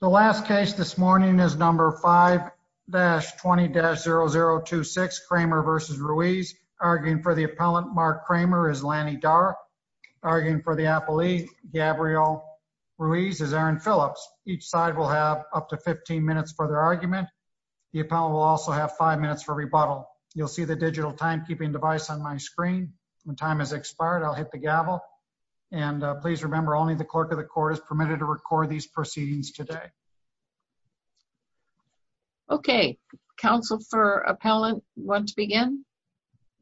The last case this morning is number 5-20-0026, Kramer v. Ruiz. Arguing for the appellant, Mark Kramer, is Lanny Darr. Arguing for the appellee, Gabriel Ruiz, is Aaron Phillips. Each side will have up to 15 minutes for their argument. The appellant will also have 5 minutes for rebuttal. You'll see the digital timekeeping device on my screen. When time has expired, I'll hit the gavel. And please remember, only the clerk of the court is permitted to record these proceedings today. Okay. Counsel for appellant, you want to begin?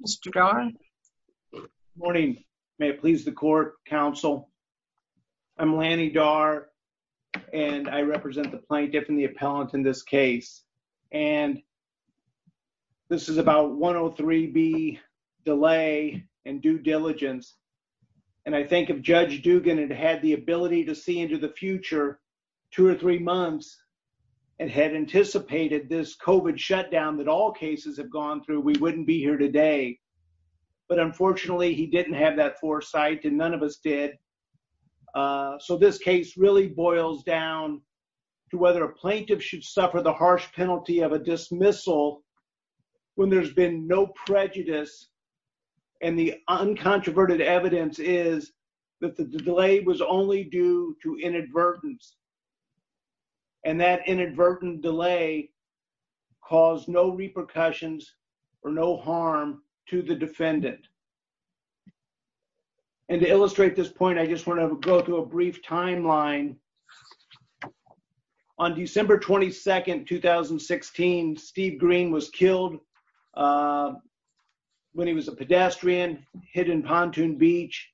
Mr. Darr? Morning. May it please the court, counsel. I'm Lanny Darr, and I represent the plaintiff and the appellant in this case. And this is about 103B, delay and due diligence. And I think if Judge Dugan had had the ability to see into the future two or three months and had anticipated this COVID shutdown that all cases have gone through, we wouldn't be here today. But unfortunately, he didn't have that foresight, and none of us did. So this case really boils down to whether a plaintiff should suffer the harsh penalty of a dismissal when there's been no prejudice and the uncontroverted evidence is that the delay was only due to inadvertence. And that inadvertent delay caused no repercussions or no harm to the defendant. And to illustrate this point, I just want to go through a brief timeline. On December 22nd, 2016, Steve Green was killed when he was a pedestrian, hit in Pontoon Beach.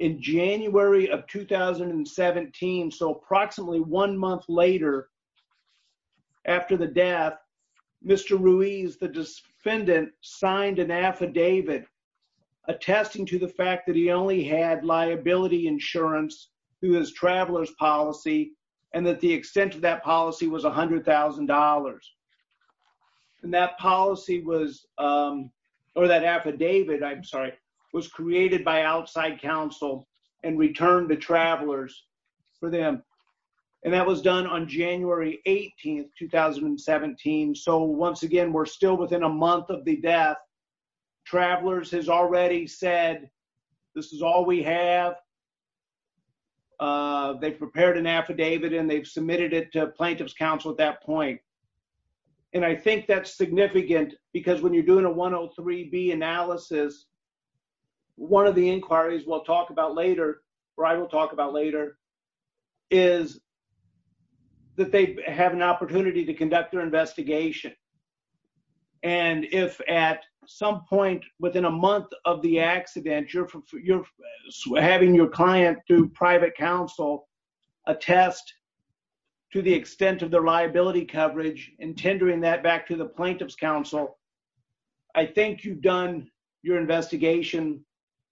In January of 2017, so approximately one month later after the death, Mr. Ruiz, the defendant, signed an affidavit attesting to the fact that he only had liability insurance through his traveler's policy and that the extent of that policy was $100,000. And that policy was, or that affidavit, I'm sorry, was created by outside counsel and returned to travelers for them. And that was done on January 18th, 2017. So once again, we're still within a month of the death. Travelers has already said, this is all we have. They've prepared an affidavit and they've submitted it to plaintiff's counsel at that point. And I think that's significant because when you're doing a 103B analysis, one of the inquiries we'll talk about later, or I will talk about later, is that they have an opportunity to conduct their investigation. And if at some point within a month of the accident, you're having your client through private counsel attest to the extent of their liability coverage and tendering that back to the plaintiff's counsel, I think you've done your investigation,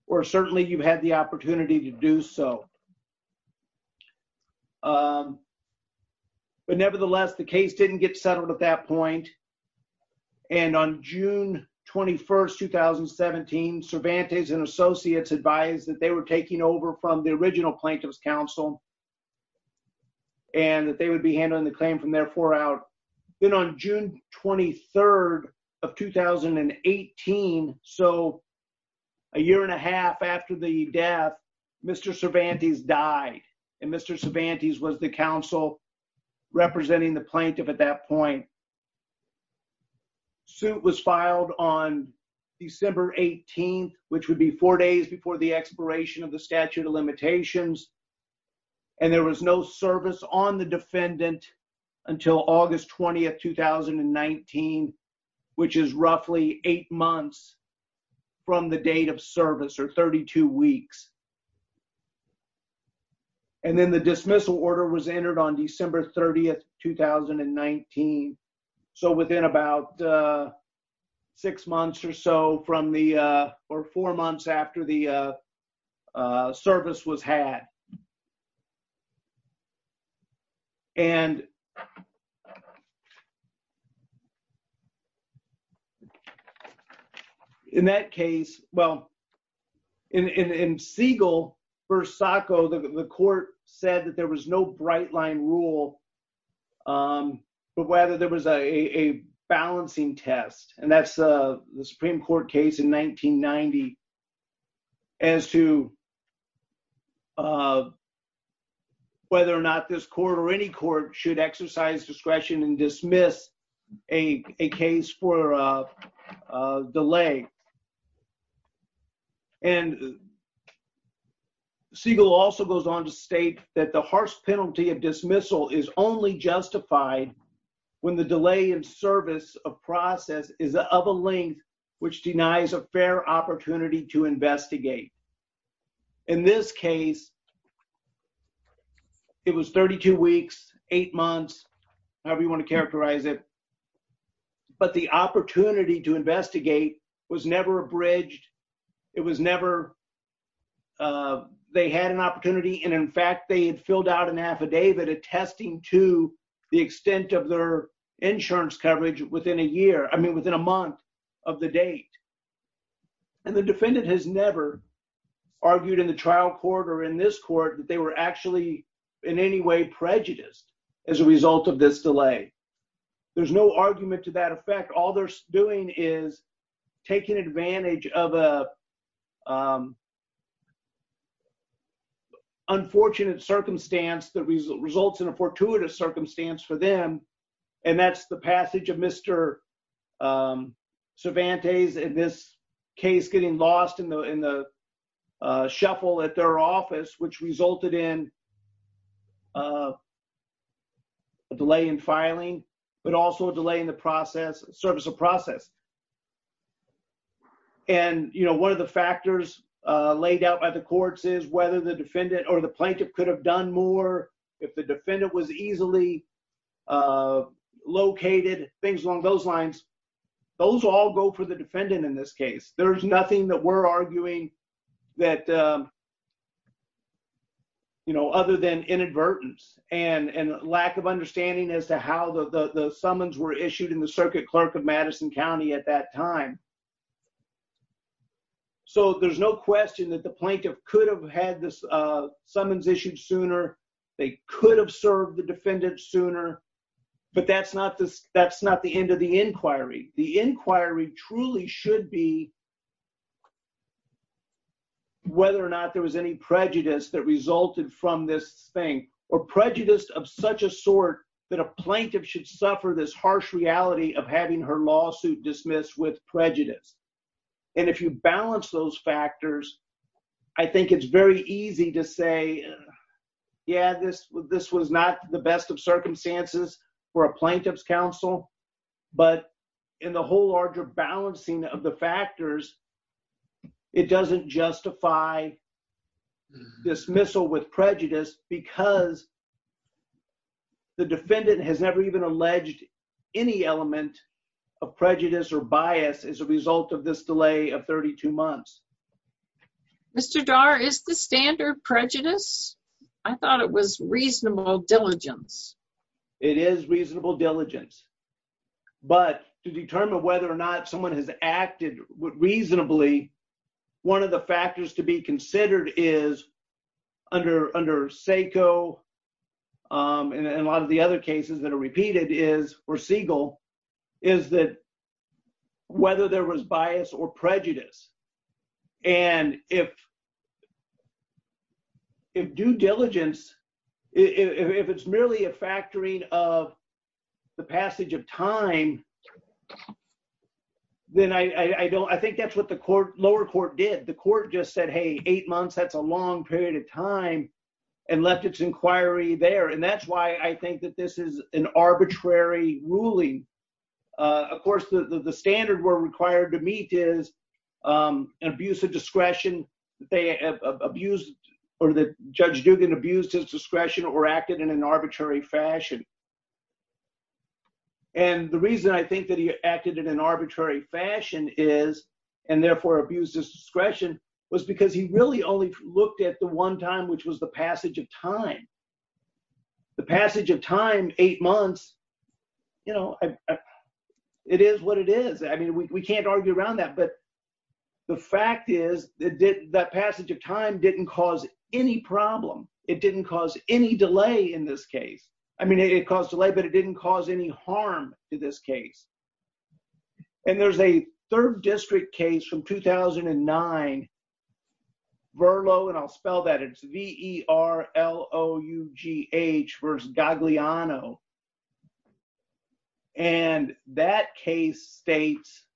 or certainly you've had the opportunity to do so. But nevertheless, the case didn't get settled at that point. And on June 21st, 2017, Cervantes and associates advised that they were taking over from the original plaintiff's counsel and that they would be handling the claim from therefore out. Then on June 23rd of 2018, so a year and a half after the death, Mr. Cervantes died. And Mr. Cervantes was the counsel representing the plaintiff at that point. Suit was filed on December 18th, which would be four days before the expiration of the statute of limitations. And there was no service on the defendant until August 20th, 2019, which is roughly eight months from the date of service, or 32 weeks. And then the dismissal order was entered on December 30th, 2019. So within about six months or so from the, or four months after the service was had. And in that case, well, in Siegel v. Sacco, the court said that there was no bright line rule for whether there was a balancing test. And that's the Supreme Court case in 1990 as to whether or not this court or any court should exercise discretion and dismiss a case for a delay. And Siegel also goes on to state that the harsh penalty of dismissal is only justified when the delay in service of process is of a length which denies a fair opportunity to investigate. In this case, it was 32 weeks, eight months, however you want to characterize it. But the opportunity to investigate was never abridged. It was never, they had an opportunity. And in fact, they had filled out an affidavit attesting to the extent of their insurance coverage within a year. I mean, within a month of the date. And the defendant has never argued in the trial court or in this court that they were actually in any way prejudiced as a result of this delay. There's no argument to that effect. All they're doing is taking advantage of an unfortunate circumstance that results in a fortuitous circumstance for them. And that's the passage of Mr. Cervantes in this case getting lost in the shuffle at their office, which resulted in a delay in filing, but also a delay in the process, service of process. And, you know, one of the factors laid out by the courts is whether the defendant or the plaintiff could have done more if the defendant was easily located, things along those lines. Those all go for the defendant in this case. There's nothing that we're arguing that, you know, other than inadvertence and lack of understanding as to how the summons were issued in the circuit clerk of Madison County at that time. So there's no question that the plaintiff could have had the summons issued sooner. They could have served the defendant sooner. But that's not the end of the inquiry. The inquiry truly should be whether or not there was any prejudice that resulted from this thing or prejudice of such a sort that a plaintiff should suffer this harsh reality of having her lawsuit dismissed with prejudice. And if you balance those factors, I think it's very easy to say, yeah, this was not the best of circumstances for a plaintiff's counsel. But in the whole larger balancing of the factors, it doesn't justify dismissal with prejudice because the defendant has never even alleged any element of prejudice or bias as a result of this delay of 32 months. Mr. Dar, is the standard prejudice? I thought it was reasonable diligence. It is reasonable diligence. But to determine whether or not someone has acted reasonably, one of the factors to be considered is under SACO and a lot of the other cases that are repeated is, or Siegel, is that whether there was bias or prejudice. And if due diligence, if it's merely a factoring of the passage of time, then I think that's what the lower court did. The court just said, hey, eight months, that's a long period of time and left its inquiry there. And that's why I think that this is an arbitrary ruling. Of course, the standard we're required to meet is an abuse of discretion. Judge Duggan abused his discretion or acted in an arbitrary fashion. And the reason I think that he acted in an arbitrary fashion is, and therefore abused his discretion, was because he really only looked at the one time, which was the passage of time. The passage of time, eight months, it is what it is. I mean, we can't argue around that. But the fact is that passage of time didn't cause any problem. It didn't cause any delay in this case. I mean, it caused delay, but it didn't cause any harm to this case. And there's a third district case from 2009, Verlo, and I'll spell that, it's V-E-R-L-O-U-G-H versus Gagliano. And that case states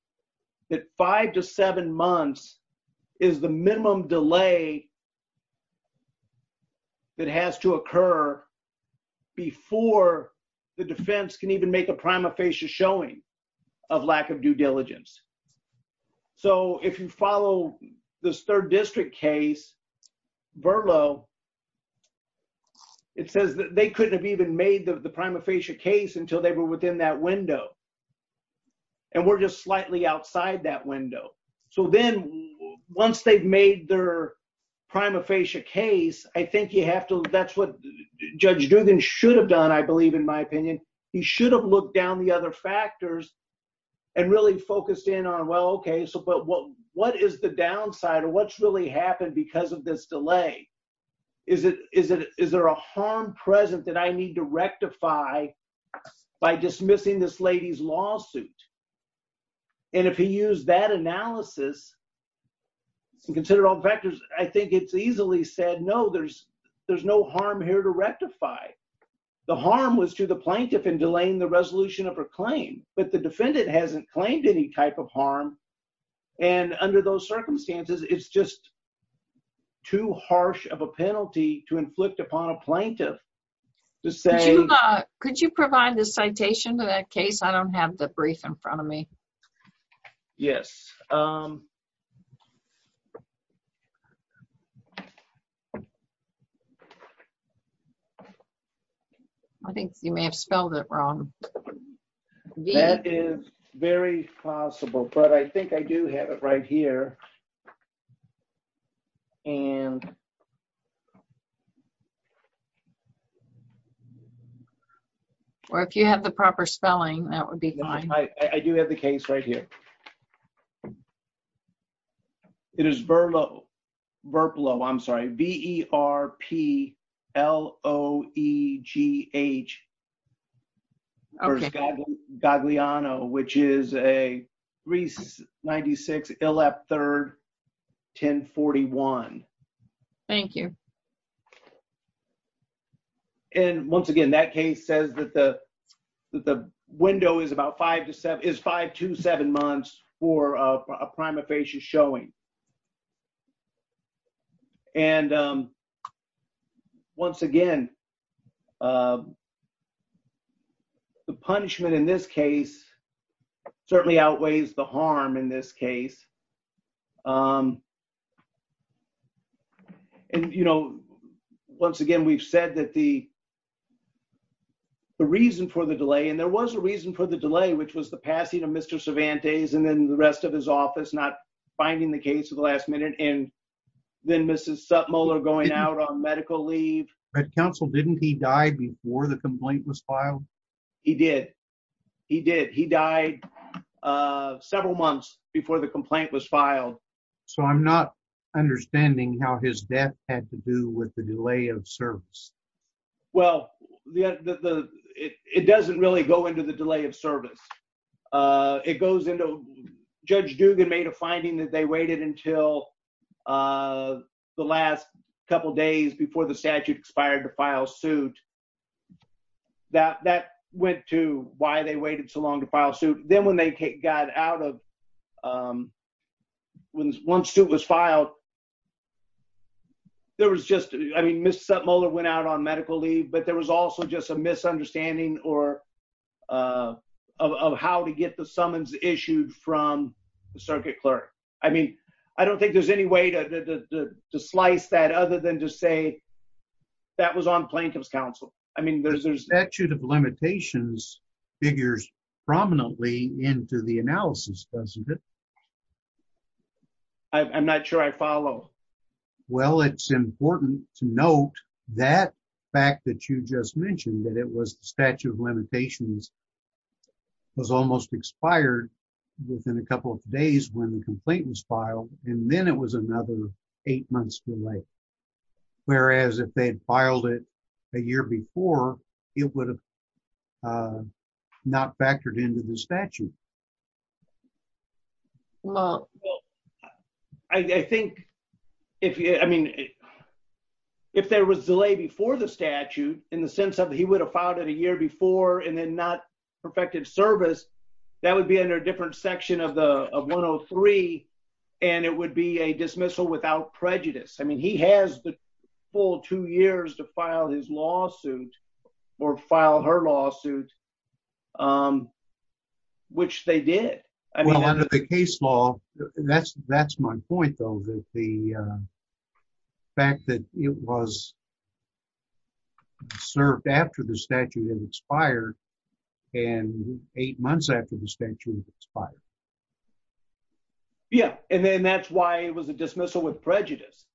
that five to seven months is the minimum delay that has to occur before the defense can even make a prima facie showing of lack of due diligence. So if you follow this third district case, Verlo, it says that they couldn't have even made the prima facie case until they were within that window. And we're just slightly outside that window. So then once they've made their prima facie case, I think you have to, that's what Judge Duggan should have done, I believe, in my opinion. He should have looked down the other factors and really focused in on, well, okay, but what is the downside or what's really happened because of this delay? Is there a harm present that I need to rectify by dismissing this lady's lawsuit? And if he used that analysis and considered all the factors, I think it's easily said, no, there's no harm here to rectify. The harm was to the plaintiff in delaying the resolution of her claim, but the defendant hasn't claimed any type of harm. And under those circumstances, it's just too harsh of a penalty to inflict upon a plaintiff to say- Could you provide the citation to that case? I don't have the brief in front of me. Yes. I think you may have spelled it wrong. That is very possible, but I think I do have it right here. Or if you have the proper spelling, that would be fine. I do have the case right here. It is VERPLO. I'm sorry. V-E-R-P-L-O-E-G-H. Okay. Versus Gagliano, which is a 396 ILEP 3rd, 1041. Thank you. And once again, that case says that the window is five to seven months for a prima facie showing. And once again, the punishment in this case certainly outweighs the harm in this case. And, you know, once again, we've said that the reason for the delay, and there was a reason for the delay, which was the passing of Mr. Cervantes and then the rest of his office not finding the case at the last minute, and then Mrs. Suttmuller going out on medical leave. But Counsel, didn't he die before the complaint was filed? He did. He did. He died several months before the complaint was filed. So I'm not understanding how his death had to do with the delay of service. Well, it doesn't really go into the delay of service. It goes into Judge Dugan made a finding that they waited until the last couple days before the statute expired to file suit. That went to why they waited so long to file suit. Then when they got out of, once suit was filed, there was just, I mean, Mrs. Suttmuller went out on medical leave, but there was also just a misunderstanding of how to get the summons issued from the circuit clerk. I mean, I don't think there's any way to slice that other than to say that was on Plaintiff's counsel. I mean, there's... Statute of limitations figures prominently into the analysis, doesn't it? I'm not sure I follow. Well, it's important to note that fact that you just mentioned, that it was the statute of limitations was almost expired within a couple of days when the complaint was filed. And then it was another eight months delay. Whereas if they had filed it a year before, it would have not factored into the statute. Well, I think, I mean, if there was a delay before the statute, in the sense of he would have filed it a year before and then not perfected service, that would be under a different section of 103, and it would be a dismissal without prejudice. I mean, he has the full two years to file his lawsuit or file her lawsuit, which they did. Well, under the case law, that's my point, though, that the fact that it was served after the statute had expired and eight months after the statute had expired. Yeah, and then that's why it was a dismissal with prejudice.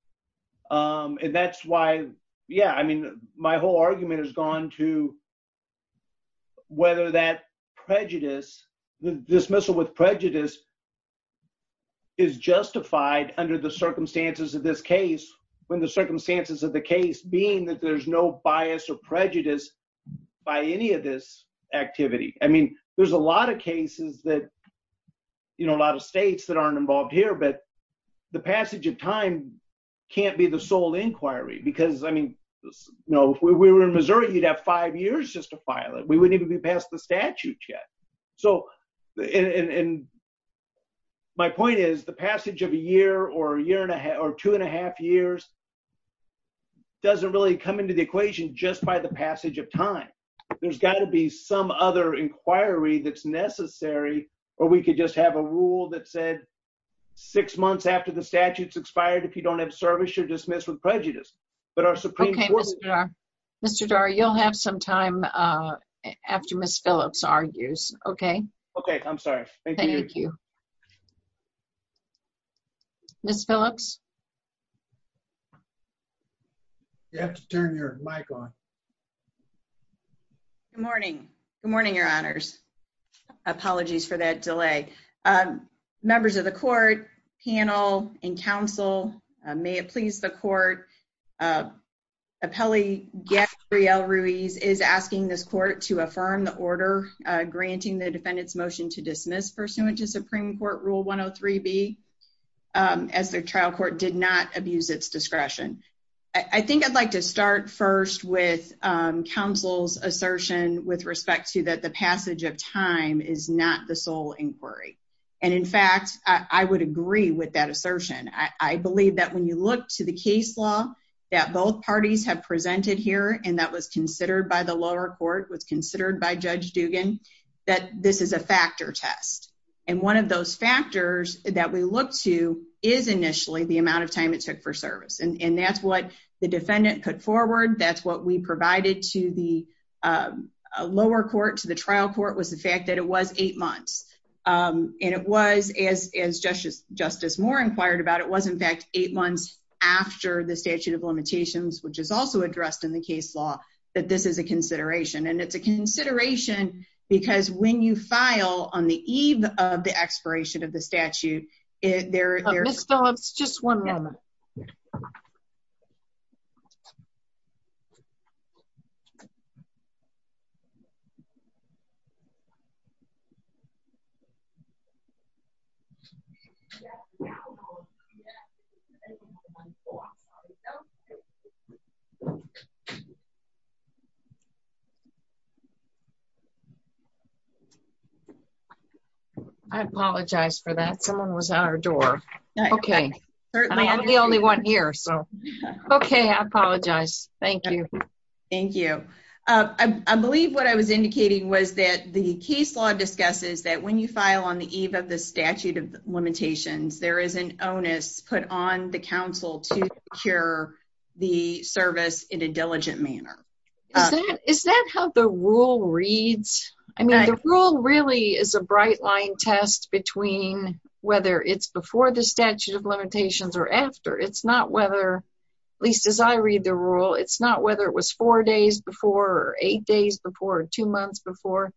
And that's why, yeah, I mean, my whole argument has gone to whether that prejudice, the dismissal with prejudice is justified under the circumstances of this case, when the circumstances of the case being that there's no bias or prejudice by any of this activity. I mean, there's a lot of cases that, you know, a lot of states that aren't involved here, but the passage of time can't be the sole inquiry. Because, I mean, you know, if we were in Missouri, you'd have five years just to file it. We wouldn't even be past the statute yet. So, and my point is the passage of a year or a year and a half or two and a half years doesn't really come into the equation just by the passage of time. There's got to be some other inquiry that's necessary. Or we could just have a rule that said six months after the statute's expired, if you don't have service, you're dismissed with prejudice. But our Supreme Court— Okay, Mr. Darr, you'll have some time after Ms. Phillips argues, okay? Okay, I'm sorry. Thank you. Ms. Phillips? You have to turn your mic on. Good morning. Good morning, Your Honors. Apologies for that delay. Members of the court, panel, and counsel, may it please the court, Appellee Gabrielle Ruiz is asking this court to affirm the order granting the defendant's motion to dismiss pursuant to Supreme Court Rule 103B, as the trial court did not abuse its discretion. I think I'd like to start first with counsel's assertion with respect to that the passage of time is not the sole inquiry. And, in fact, I would agree with that assertion. I believe that when you look to the case law that both parties have presented here and that was considered by the lower court, was considered by Judge Dugan, that this is a factor test. And one of those factors that we look to is initially the amount of time it took for service. And that's what the defendant put forward. That's what we provided to the lower court, to the trial court, was the fact that it was eight months. And it was, as Justice Moore inquired about it, it was, in fact, eight months after the statute of limitations, which is also addressed in the case law, that this is a consideration. And it's a consideration because when you file on the eve of the expiration of the statute, there… Ms. Phillips, just one moment. Okay. I apologize for that. Someone was at our door. Okay. I'm the only one here, so. Okay. I apologize. Thank you. Thank you. I believe what I was indicating was that the case law discusses that when you file on the eve of the statute of limitations, there is an onus put on the counsel to secure the service in a diligent manner. Is that how the rule reads? I mean, the rule really is a bright-line test between whether it's before the statute of limitations or after. It's not whether, at least as I read the rule, it's not whether it was four days before or eight days before or two months before.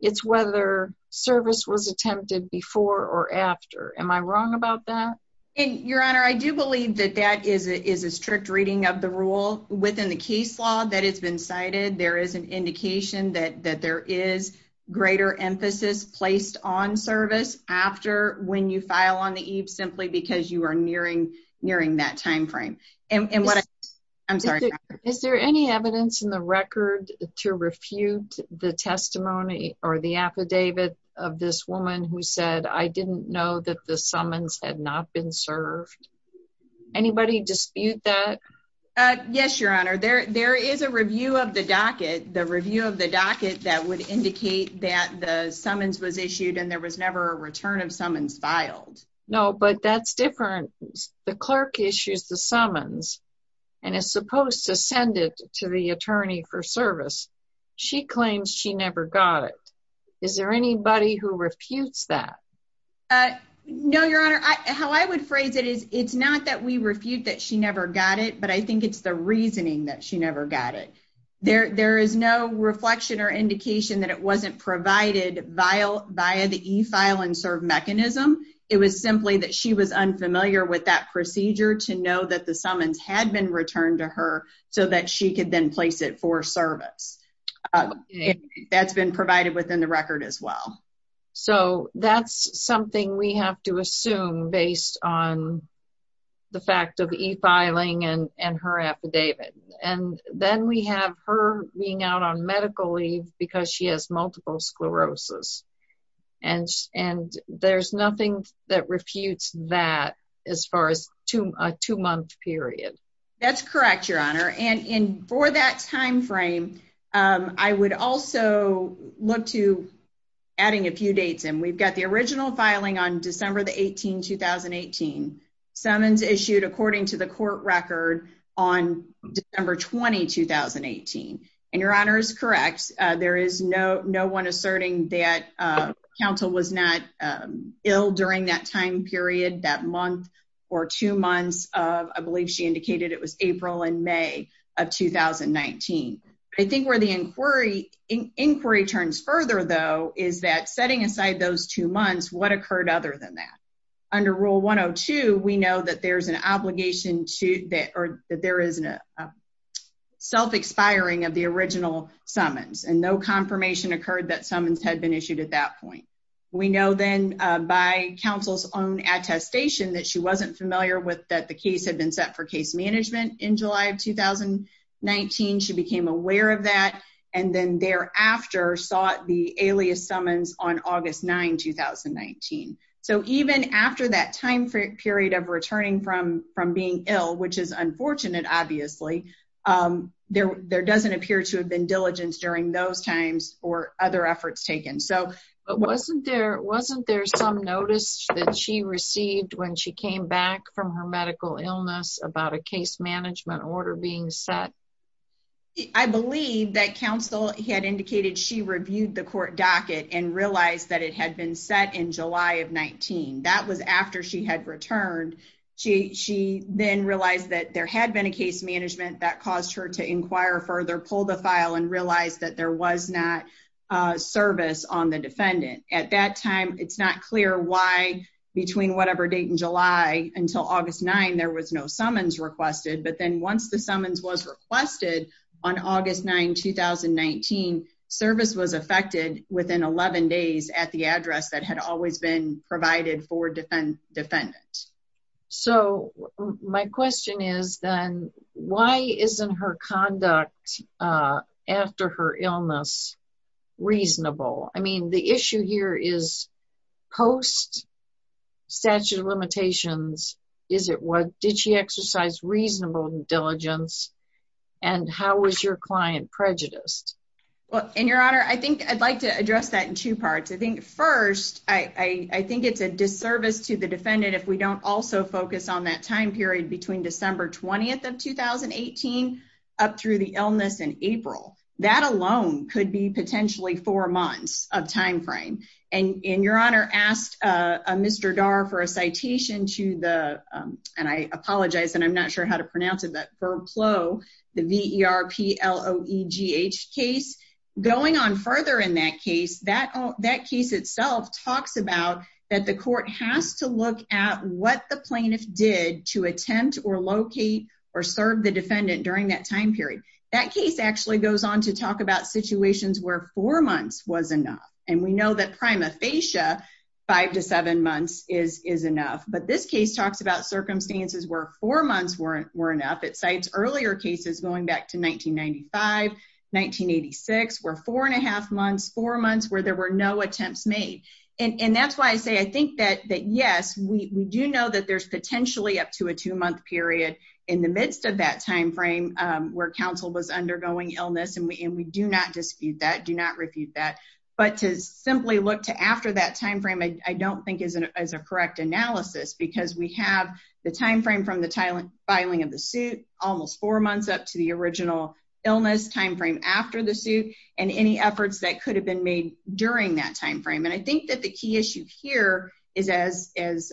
It's whether service was attempted before or after. Am I wrong about that? Your Honor, I do believe that that is a strict reading of the rule. Within the case law that has been cited, there is an indication that there is greater emphasis placed on service after when you file on the eve simply because you are nearing that timeframe. And what I… I'm sorry, Your Honor. Is there any evidence in the record to refute the testimony or the affidavit of this woman who said, I didn't know that the summons had not been served? Anybody dispute that? Yes, Your Honor. There is a review of the docket, the review of the docket that would indicate that the summons was issued and there was never a return of summons filed. No, but that's different. The clerk issues the summons and is supposed to send it to the attorney for service. She claims she never got it. Is there anybody who refutes that? No, Your Honor. How I would phrase it is, it's not that we refute that she never got it, but I think it's the reasoning that she never got it. There is no reflection or indication that it wasn't provided via the e-file and serve mechanism. It was simply that she was unfamiliar with that procedure to know that the summons had been returned to her so that she could then place it for service. That's been provided within the record as well. So, that's something we have to assume based on the fact of e-filing and her affidavit. And then we have her being out on medical leave because she has multiple sclerosis. And there's nothing that refutes that as far as a two-month period. That's correct, Your Honor. And for that time frame, I would also look to adding a few dates in. We've got the original filing on December 18, 2018. Summons issued according to the court record on December 20, 2018. And Your Honor is correct. There is no one asserting that counsel was not ill during that time period, that month or two months. I believe she indicated it was April and May of 2019. I think where the inquiry turns further, though, is that setting aside those two months, what occurred other than that? Under Rule 102, we know that there is a self-expiring of the original summons. And no confirmation occurred that summons had been issued at that point. We know then by counsel's own attestation that she wasn't familiar with that the case had been set for case management in July of 2019. She became aware of that and then thereafter sought the alias summons on August 9, 2019. So even after that time period of returning from being ill, which is unfortunate, obviously, there doesn't appear to have been diligence during those times or other efforts taken. But wasn't there some notice that she received when she came back from her medical illness about a case management order being set? I believe that counsel had indicated she reviewed the court docket and realized that it had been set in July of 2019. That was after she had returned. She then realized that there had been a case management that caused her to inquire further, pull the file, and realize that there was not service on the defendant. At that time, it's not clear why, between whatever date in July until August 9, there was no summons requested. But then once the summons was requested on August 9, 2019, service was effected within 11 days at the address that had always been provided for defendants. So my question is then, why isn't her conduct after her illness reasonable? I mean, the issue here is post-statute of limitations, did she exercise reasonable diligence, and how was your client prejudiced? Well, and Your Honor, I think I'd like to address that in two parts. I think first, I think it's a disservice to the defendant if we don't also focus on that time period between December 20th of 2018 up through the illness in April. That alone could be potentially four months of time frame. And Your Honor asked Mr. Darr for a citation to the, and I apologize, and I'm not sure how to pronounce it, but VERPLO, the V-E-R-P-L-O-E-G-H case. Going on further in that case, that case itself talks about that the court has to look at what the plaintiff did to attempt or locate or serve the defendant during that time period. That case actually goes on to talk about situations where four months was enough. And we know that prima facie, five to seven months is enough. But this case talks about circumstances where four months weren't enough. It cites earlier cases going back to 1995, 1986, where four and a half months, four months where there were no attempts made. And that's why I say I think that yes, we do know that there's potentially up to a two-month period in the midst of that time frame where counsel was undergoing illness. And we do not dispute that, do not refute that. But to simply look to after that time frame I don't think is a correct analysis because we have the time frame from the filing of the suit, almost four months up to the original illness time frame after the suit, and any efforts that could have been made during that time frame. And I think that the key issue here is, as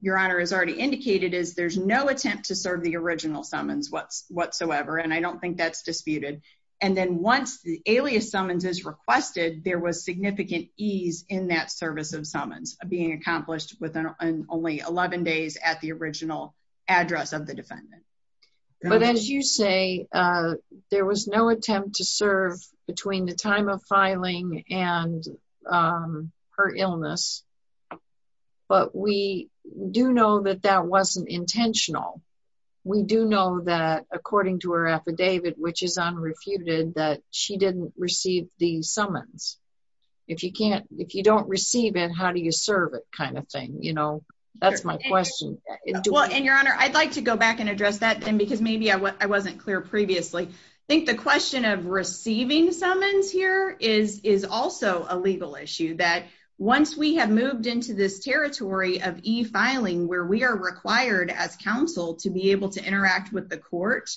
Your Honor has already indicated, is there's no attempt to serve the original summons whatsoever. And I don't think that's disputed. And then once the alias summons is requested, there was significant ease in that service of summons being accomplished within only 11 days at the original address of the defendant. But as you say, there was no attempt to serve between the time of filing and her illness. But we do know that that wasn't intentional. We do know that according to her affidavit, which is unrefuted, that she didn't receive the summons. If you don't receive it, how do you serve it kind of thing, you know? That's my question. And Your Honor, I'd like to go back and address that then because maybe I wasn't clear previously. I think the question of receiving summons here is also a legal issue. That once we have moved into this territory of e-filing where we are required as counsel to be able to interact with the court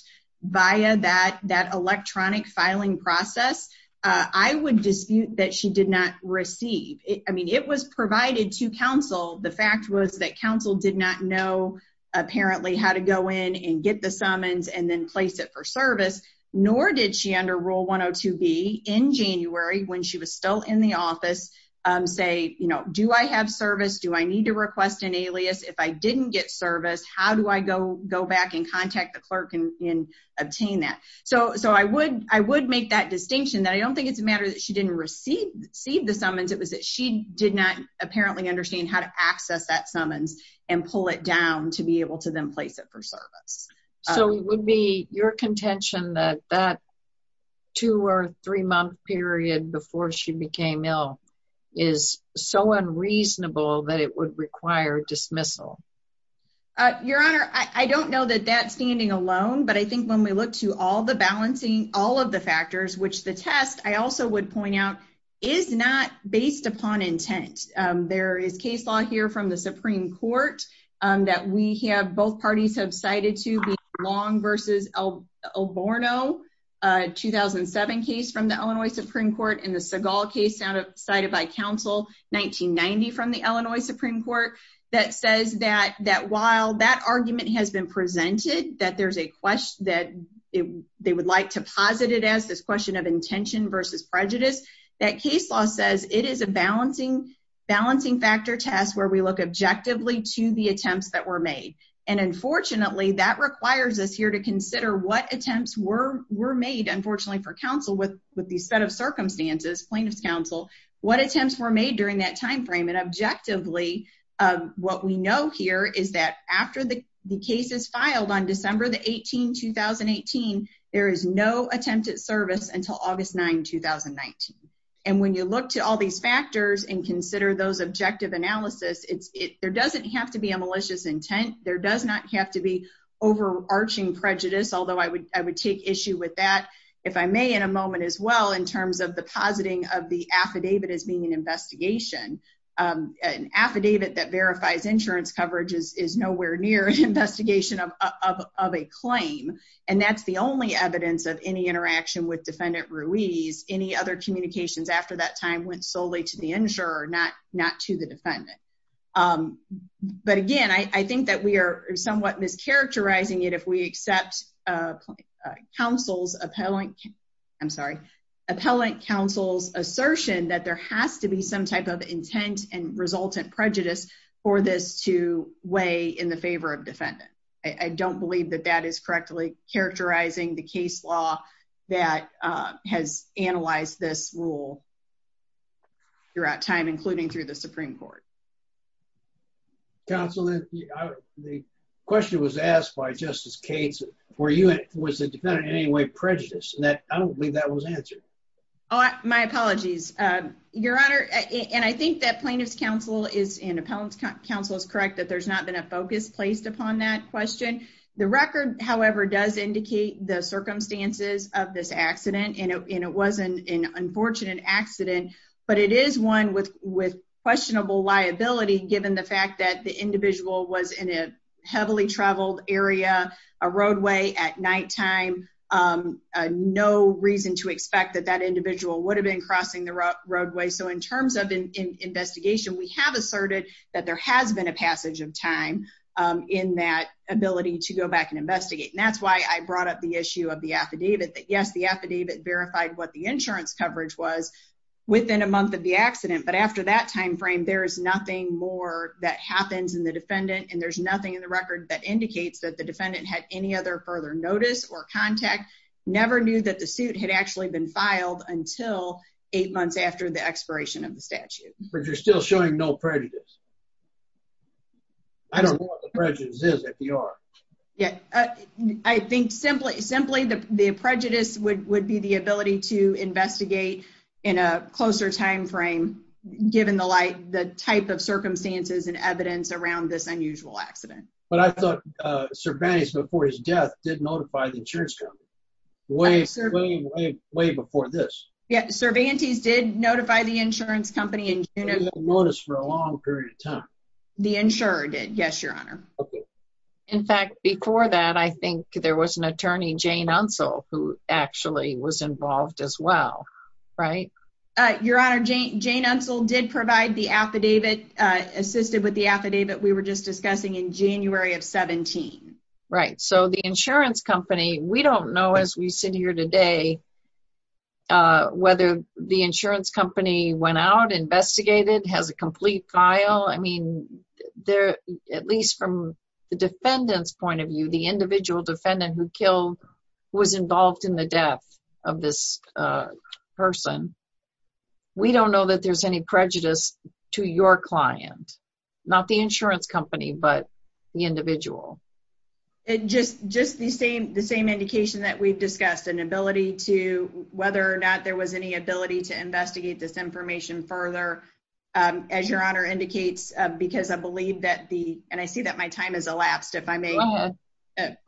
via that electronic filing process, I would dispute that she did not receive. I mean, it was provided to counsel. The fact was that counsel did not know apparently how to go in and get the summons and then place it for service. Nor did she under Rule 102B in January when she was still in the office say, you know, do I have service? Do I need to request an alias? If I didn't get service, how do I go back and contact the clerk and obtain that? So I would make that distinction that I don't think it's a matter that she didn't receive the summons. It was that she did not apparently understand how to access that summons and pull it down to be able to then place it for service. So it would be your contention that that two- or three-month period before she became ill is so unreasonable that it would require dismissal? Your Honor, I don't know that that's standing alone, but I think when we look to all the balancing, all of the factors, which the test, I also would point out, is not based upon intent. There is case law here from the Supreme Court that we have, both parties have cited to, the Long v. Alborno 2007 case from the Illinois Supreme Court and the Seagal case cited by counsel 1990 from the Illinois Supreme Court that says that while that argument has been presented, that there's a question that they would like to posit it as, this question of intention versus prejudice, that case law says it is a balancing factor test where we look objectively to the attempts that were made. And unfortunately, that requires us here to consider what attempts were made, unfortunately for counsel with these set of circumstances, plaintiff's counsel, what attempts were made during that timeframe. And objectively, what we know here is that after the case is filed on December 18, 2018, there is no attempted service until August 9, 2019. And when you look to all these factors and consider those objective analysis, there doesn't have to be a malicious intent. There does not have to be overarching prejudice, although I would take issue with that, if I may, in a moment as well, in terms of the positing of the affidavit as being an investigation. An affidavit that verifies insurance coverage is nowhere near an investigation of a claim. And that's the only evidence of any interaction with defendant Ruiz. Any other communications after that time went solely to the insurer, not to the defendant. But again, I think that we are somewhat mischaracterizing it if we accept appellant counsel's assertion that there has to be some type of intent and resultant prejudice for this to weigh in the favor of defendant. I don't believe that that is correctly characterizing the case law that has analyzed this rule throughout time, including through the Supreme Court. Counsel, the question was asked by Justice Cates, was the defendant in any way prejudiced? And I don't believe that was answered. Oh, my apologies, Your Honor. And I think that plaintiff's counsel and appellant's counsel is correct that there's not been a focus placed upon that question. The record, however, does indicate the circumstances of this accident, and it was an unfortunate accident. But it is one with questionable liability, given the fact that the individual was in a heavily traveled area, a roadway at nighttime, no reason to expect that that individual would have been crossing the roadway. So in terms of investigation, we have asserted that there has been a passage of time in that ability to go back and investigate. And that's why I brought up the issue of the affidavit, that, yes, the affidavit verified what the insurance coverage was within a month of the accident. But after that timeframe, there is nothing more that happens in the defendant, and there's nothing in the record that indicates that the defendant had any other further notice or contact, never knew that the suit had actually been filed until eight months after the expiration of the statute. But you're still showing no prejudice. I don't know what the prejudice is, if you are. Yeah. I think simply the prejudice would be the ability to investigate in a closer timeframe, given the type of circumstances and evidence around this unusual accident. But I thought Cervantes, before his death, did notify the insurance company. Way, way, way before this. Yeah, Cervantes did notify the insurance company in June. But he didn't notice for a long period of time. The insurer did, yes, Your Honor. Okay. In fact, before that, I think there was an attorney, Jane Unsel, who actually was involved as well, right? Your Honor, Jane Unsel did provide the affidavit, assisted with the affidavit we were just discussing in January of 17. Right. So the insurance company, we don't know, as we sit here today, whether the insurance company went out, investigated, has a complete file. I mean, at least from the defendant's point of view, the individual defendant who was involved in the death of this person, we don't know that there's any prejudice to your client. Not the insurance company, but the individual. Just the same indication that we've discussed, an ability to, whether or not there was any ability to investigate this information further, as Your Honor indicates, because I believe that the, and I see that my time has elapsed, if I may, that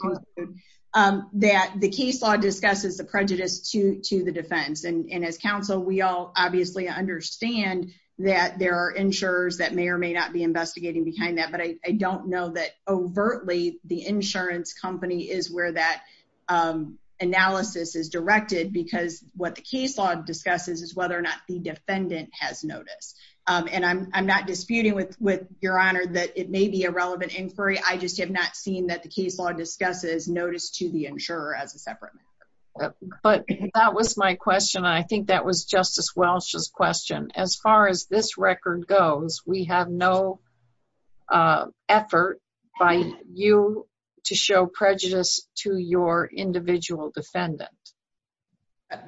the case law discusses the prejudice to the defense. And as counsel, we all obviously understand that there are insurers that may or may not be investigating behind that. But I don't know that overtly the insurance company is where that analysis is directed because what the case law discusses is whether or not the defendant has noticed. And I'm not disputing with Your Honor that it may be a relevant inquiry. I just have not seen that the case law discusses notice to the insurer as a separate matter. But that was my question. I think that was Justice Welsh's question. As far as this record goes, we have no effort by you to show prejudice to your individual defendant.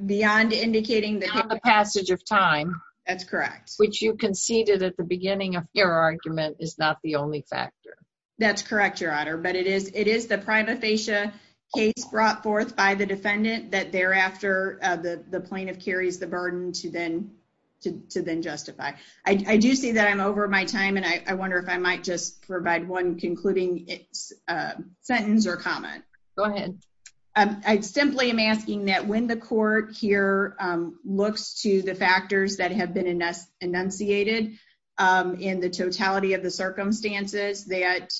Beyond indicating the passage of time. That's correct. Which you conceded at the beginning of your argument is not the only factor. That's correct, Your Honor. But it is the prima facie case brought forth by the defendant that thereafter the plaintiff carries the burden to then justify. I do see that I'm over my time and I wonder if I might just provide one concluding sentence or comment. Go ahead. I simply am asking that when the court here looks to the factors that have been enunciated in the totality of the circumstances that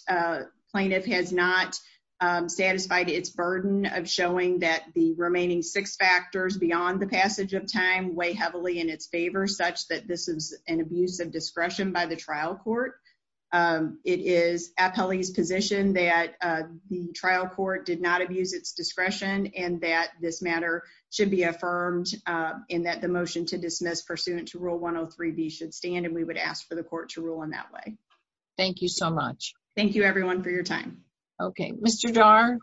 plaintiff has not satisfied its burden of showing that the remaining six factors beyond the discretion of the trial court. It is appellee's position that the trial court did not abuse its discretion and that this matter should be affirmed in that the motion to dismiss pursuant to rule 103B should stand and we would ask for the court to rule in that way. Thank you so much. Thank you, everyone, for your time. Okay. Mr. Dar,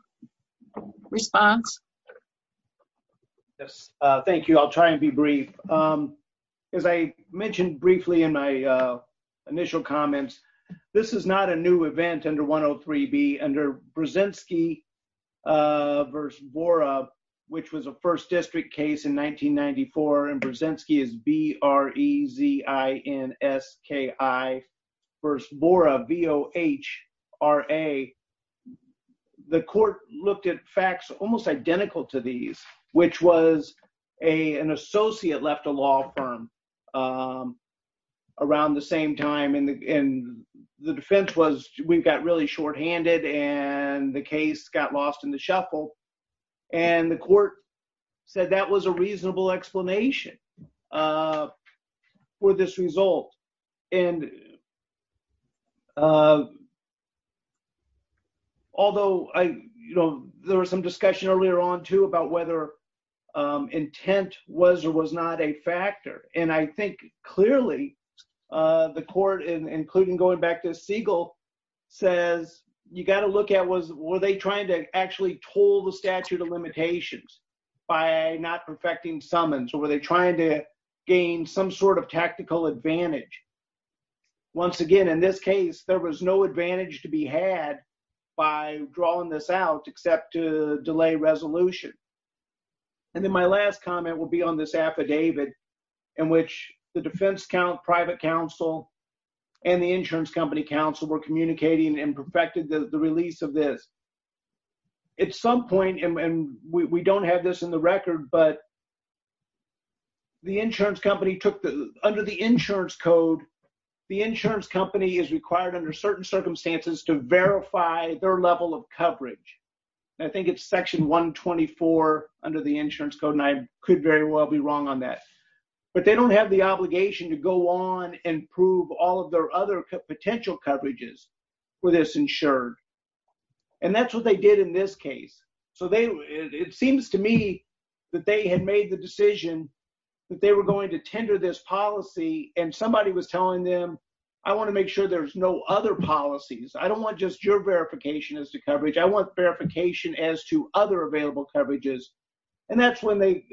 response. Yes. Thank you. I'll try and be brief. As I mentioned briefly in my initial comments, this is not a new event under 103B. Under Brzezinski v. Bora, which was a first district case in 1994, and Brzezinski is B-R-E-Z-I-N-S-K-I v. Bora, V-O-H-R-A. The court looked at facts almost identical to these, which was an associate left a law firm around the same time. And the defense was we've got really short-handed and the case got lost in the shuffle. And the court said that was a reasonable explanation for this result. And although, you know, there was some discussion earlier on too about whether intent was or was not a factor. And I think clearly the court, including going back to Siegel, says you got to look at was, were they trying to actually toll the statute of limitations by not perfecting summons? Or were they trying to gain some sort of tactical advantage? Once again, in this case, there was no advantage to be had by drawing this out except to delay resolution. And then my last comment will be on this affidavit in which the defense count, private counsel and the insurance company counsel were communicating and perfected the release of this. At some point, and we don't have this in the record, but the insurance company took the, under the insurance code, the insurance company is required under certain circumstances to verify their level of coverage. And I think it's section one 24 under the insurance code. And I could very well be wrong on that, but they don't have the obligation to go on and prove all of their other potential coverages where there's insured. And that's what they did in this case. So they, it seems to me that they had made the decision that they were going to do an investigation. And I don't want to be so pessimistic. I want to make sure that there's no other policies. I don't want just your verification as to coverage. I want verification as to other available coverages. And that's when they,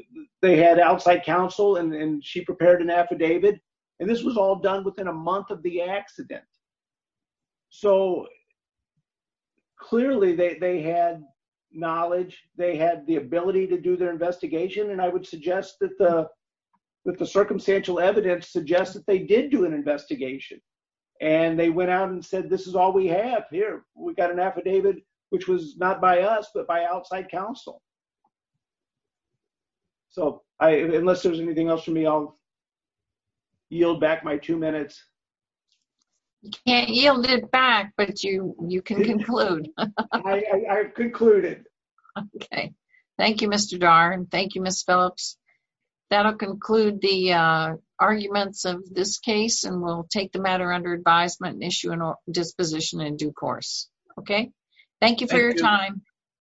they had outside counsel and she prepared an affidavit. And this was all done within a month of the accident. So clearly they had knowledge. They had the ability to do their investigation. And I would suggest that the, that the circumstantial evidence suggests that they did do an investigation. And they went out and said, this is all we have here. We've got an affidavit, which was not by us, but by outside counsel. So I, unless there's anything else for me, I'll yield back my two minutes. You can't yield it back, but you, you can conclude. I concluded. Okay. Thank you, Mr. Dar and thank you, Ms. Phillips. That'll conclude the arguments of this case and we'll take the matter under advisement and issue a disposition in due course. Okay. Thank you for your time.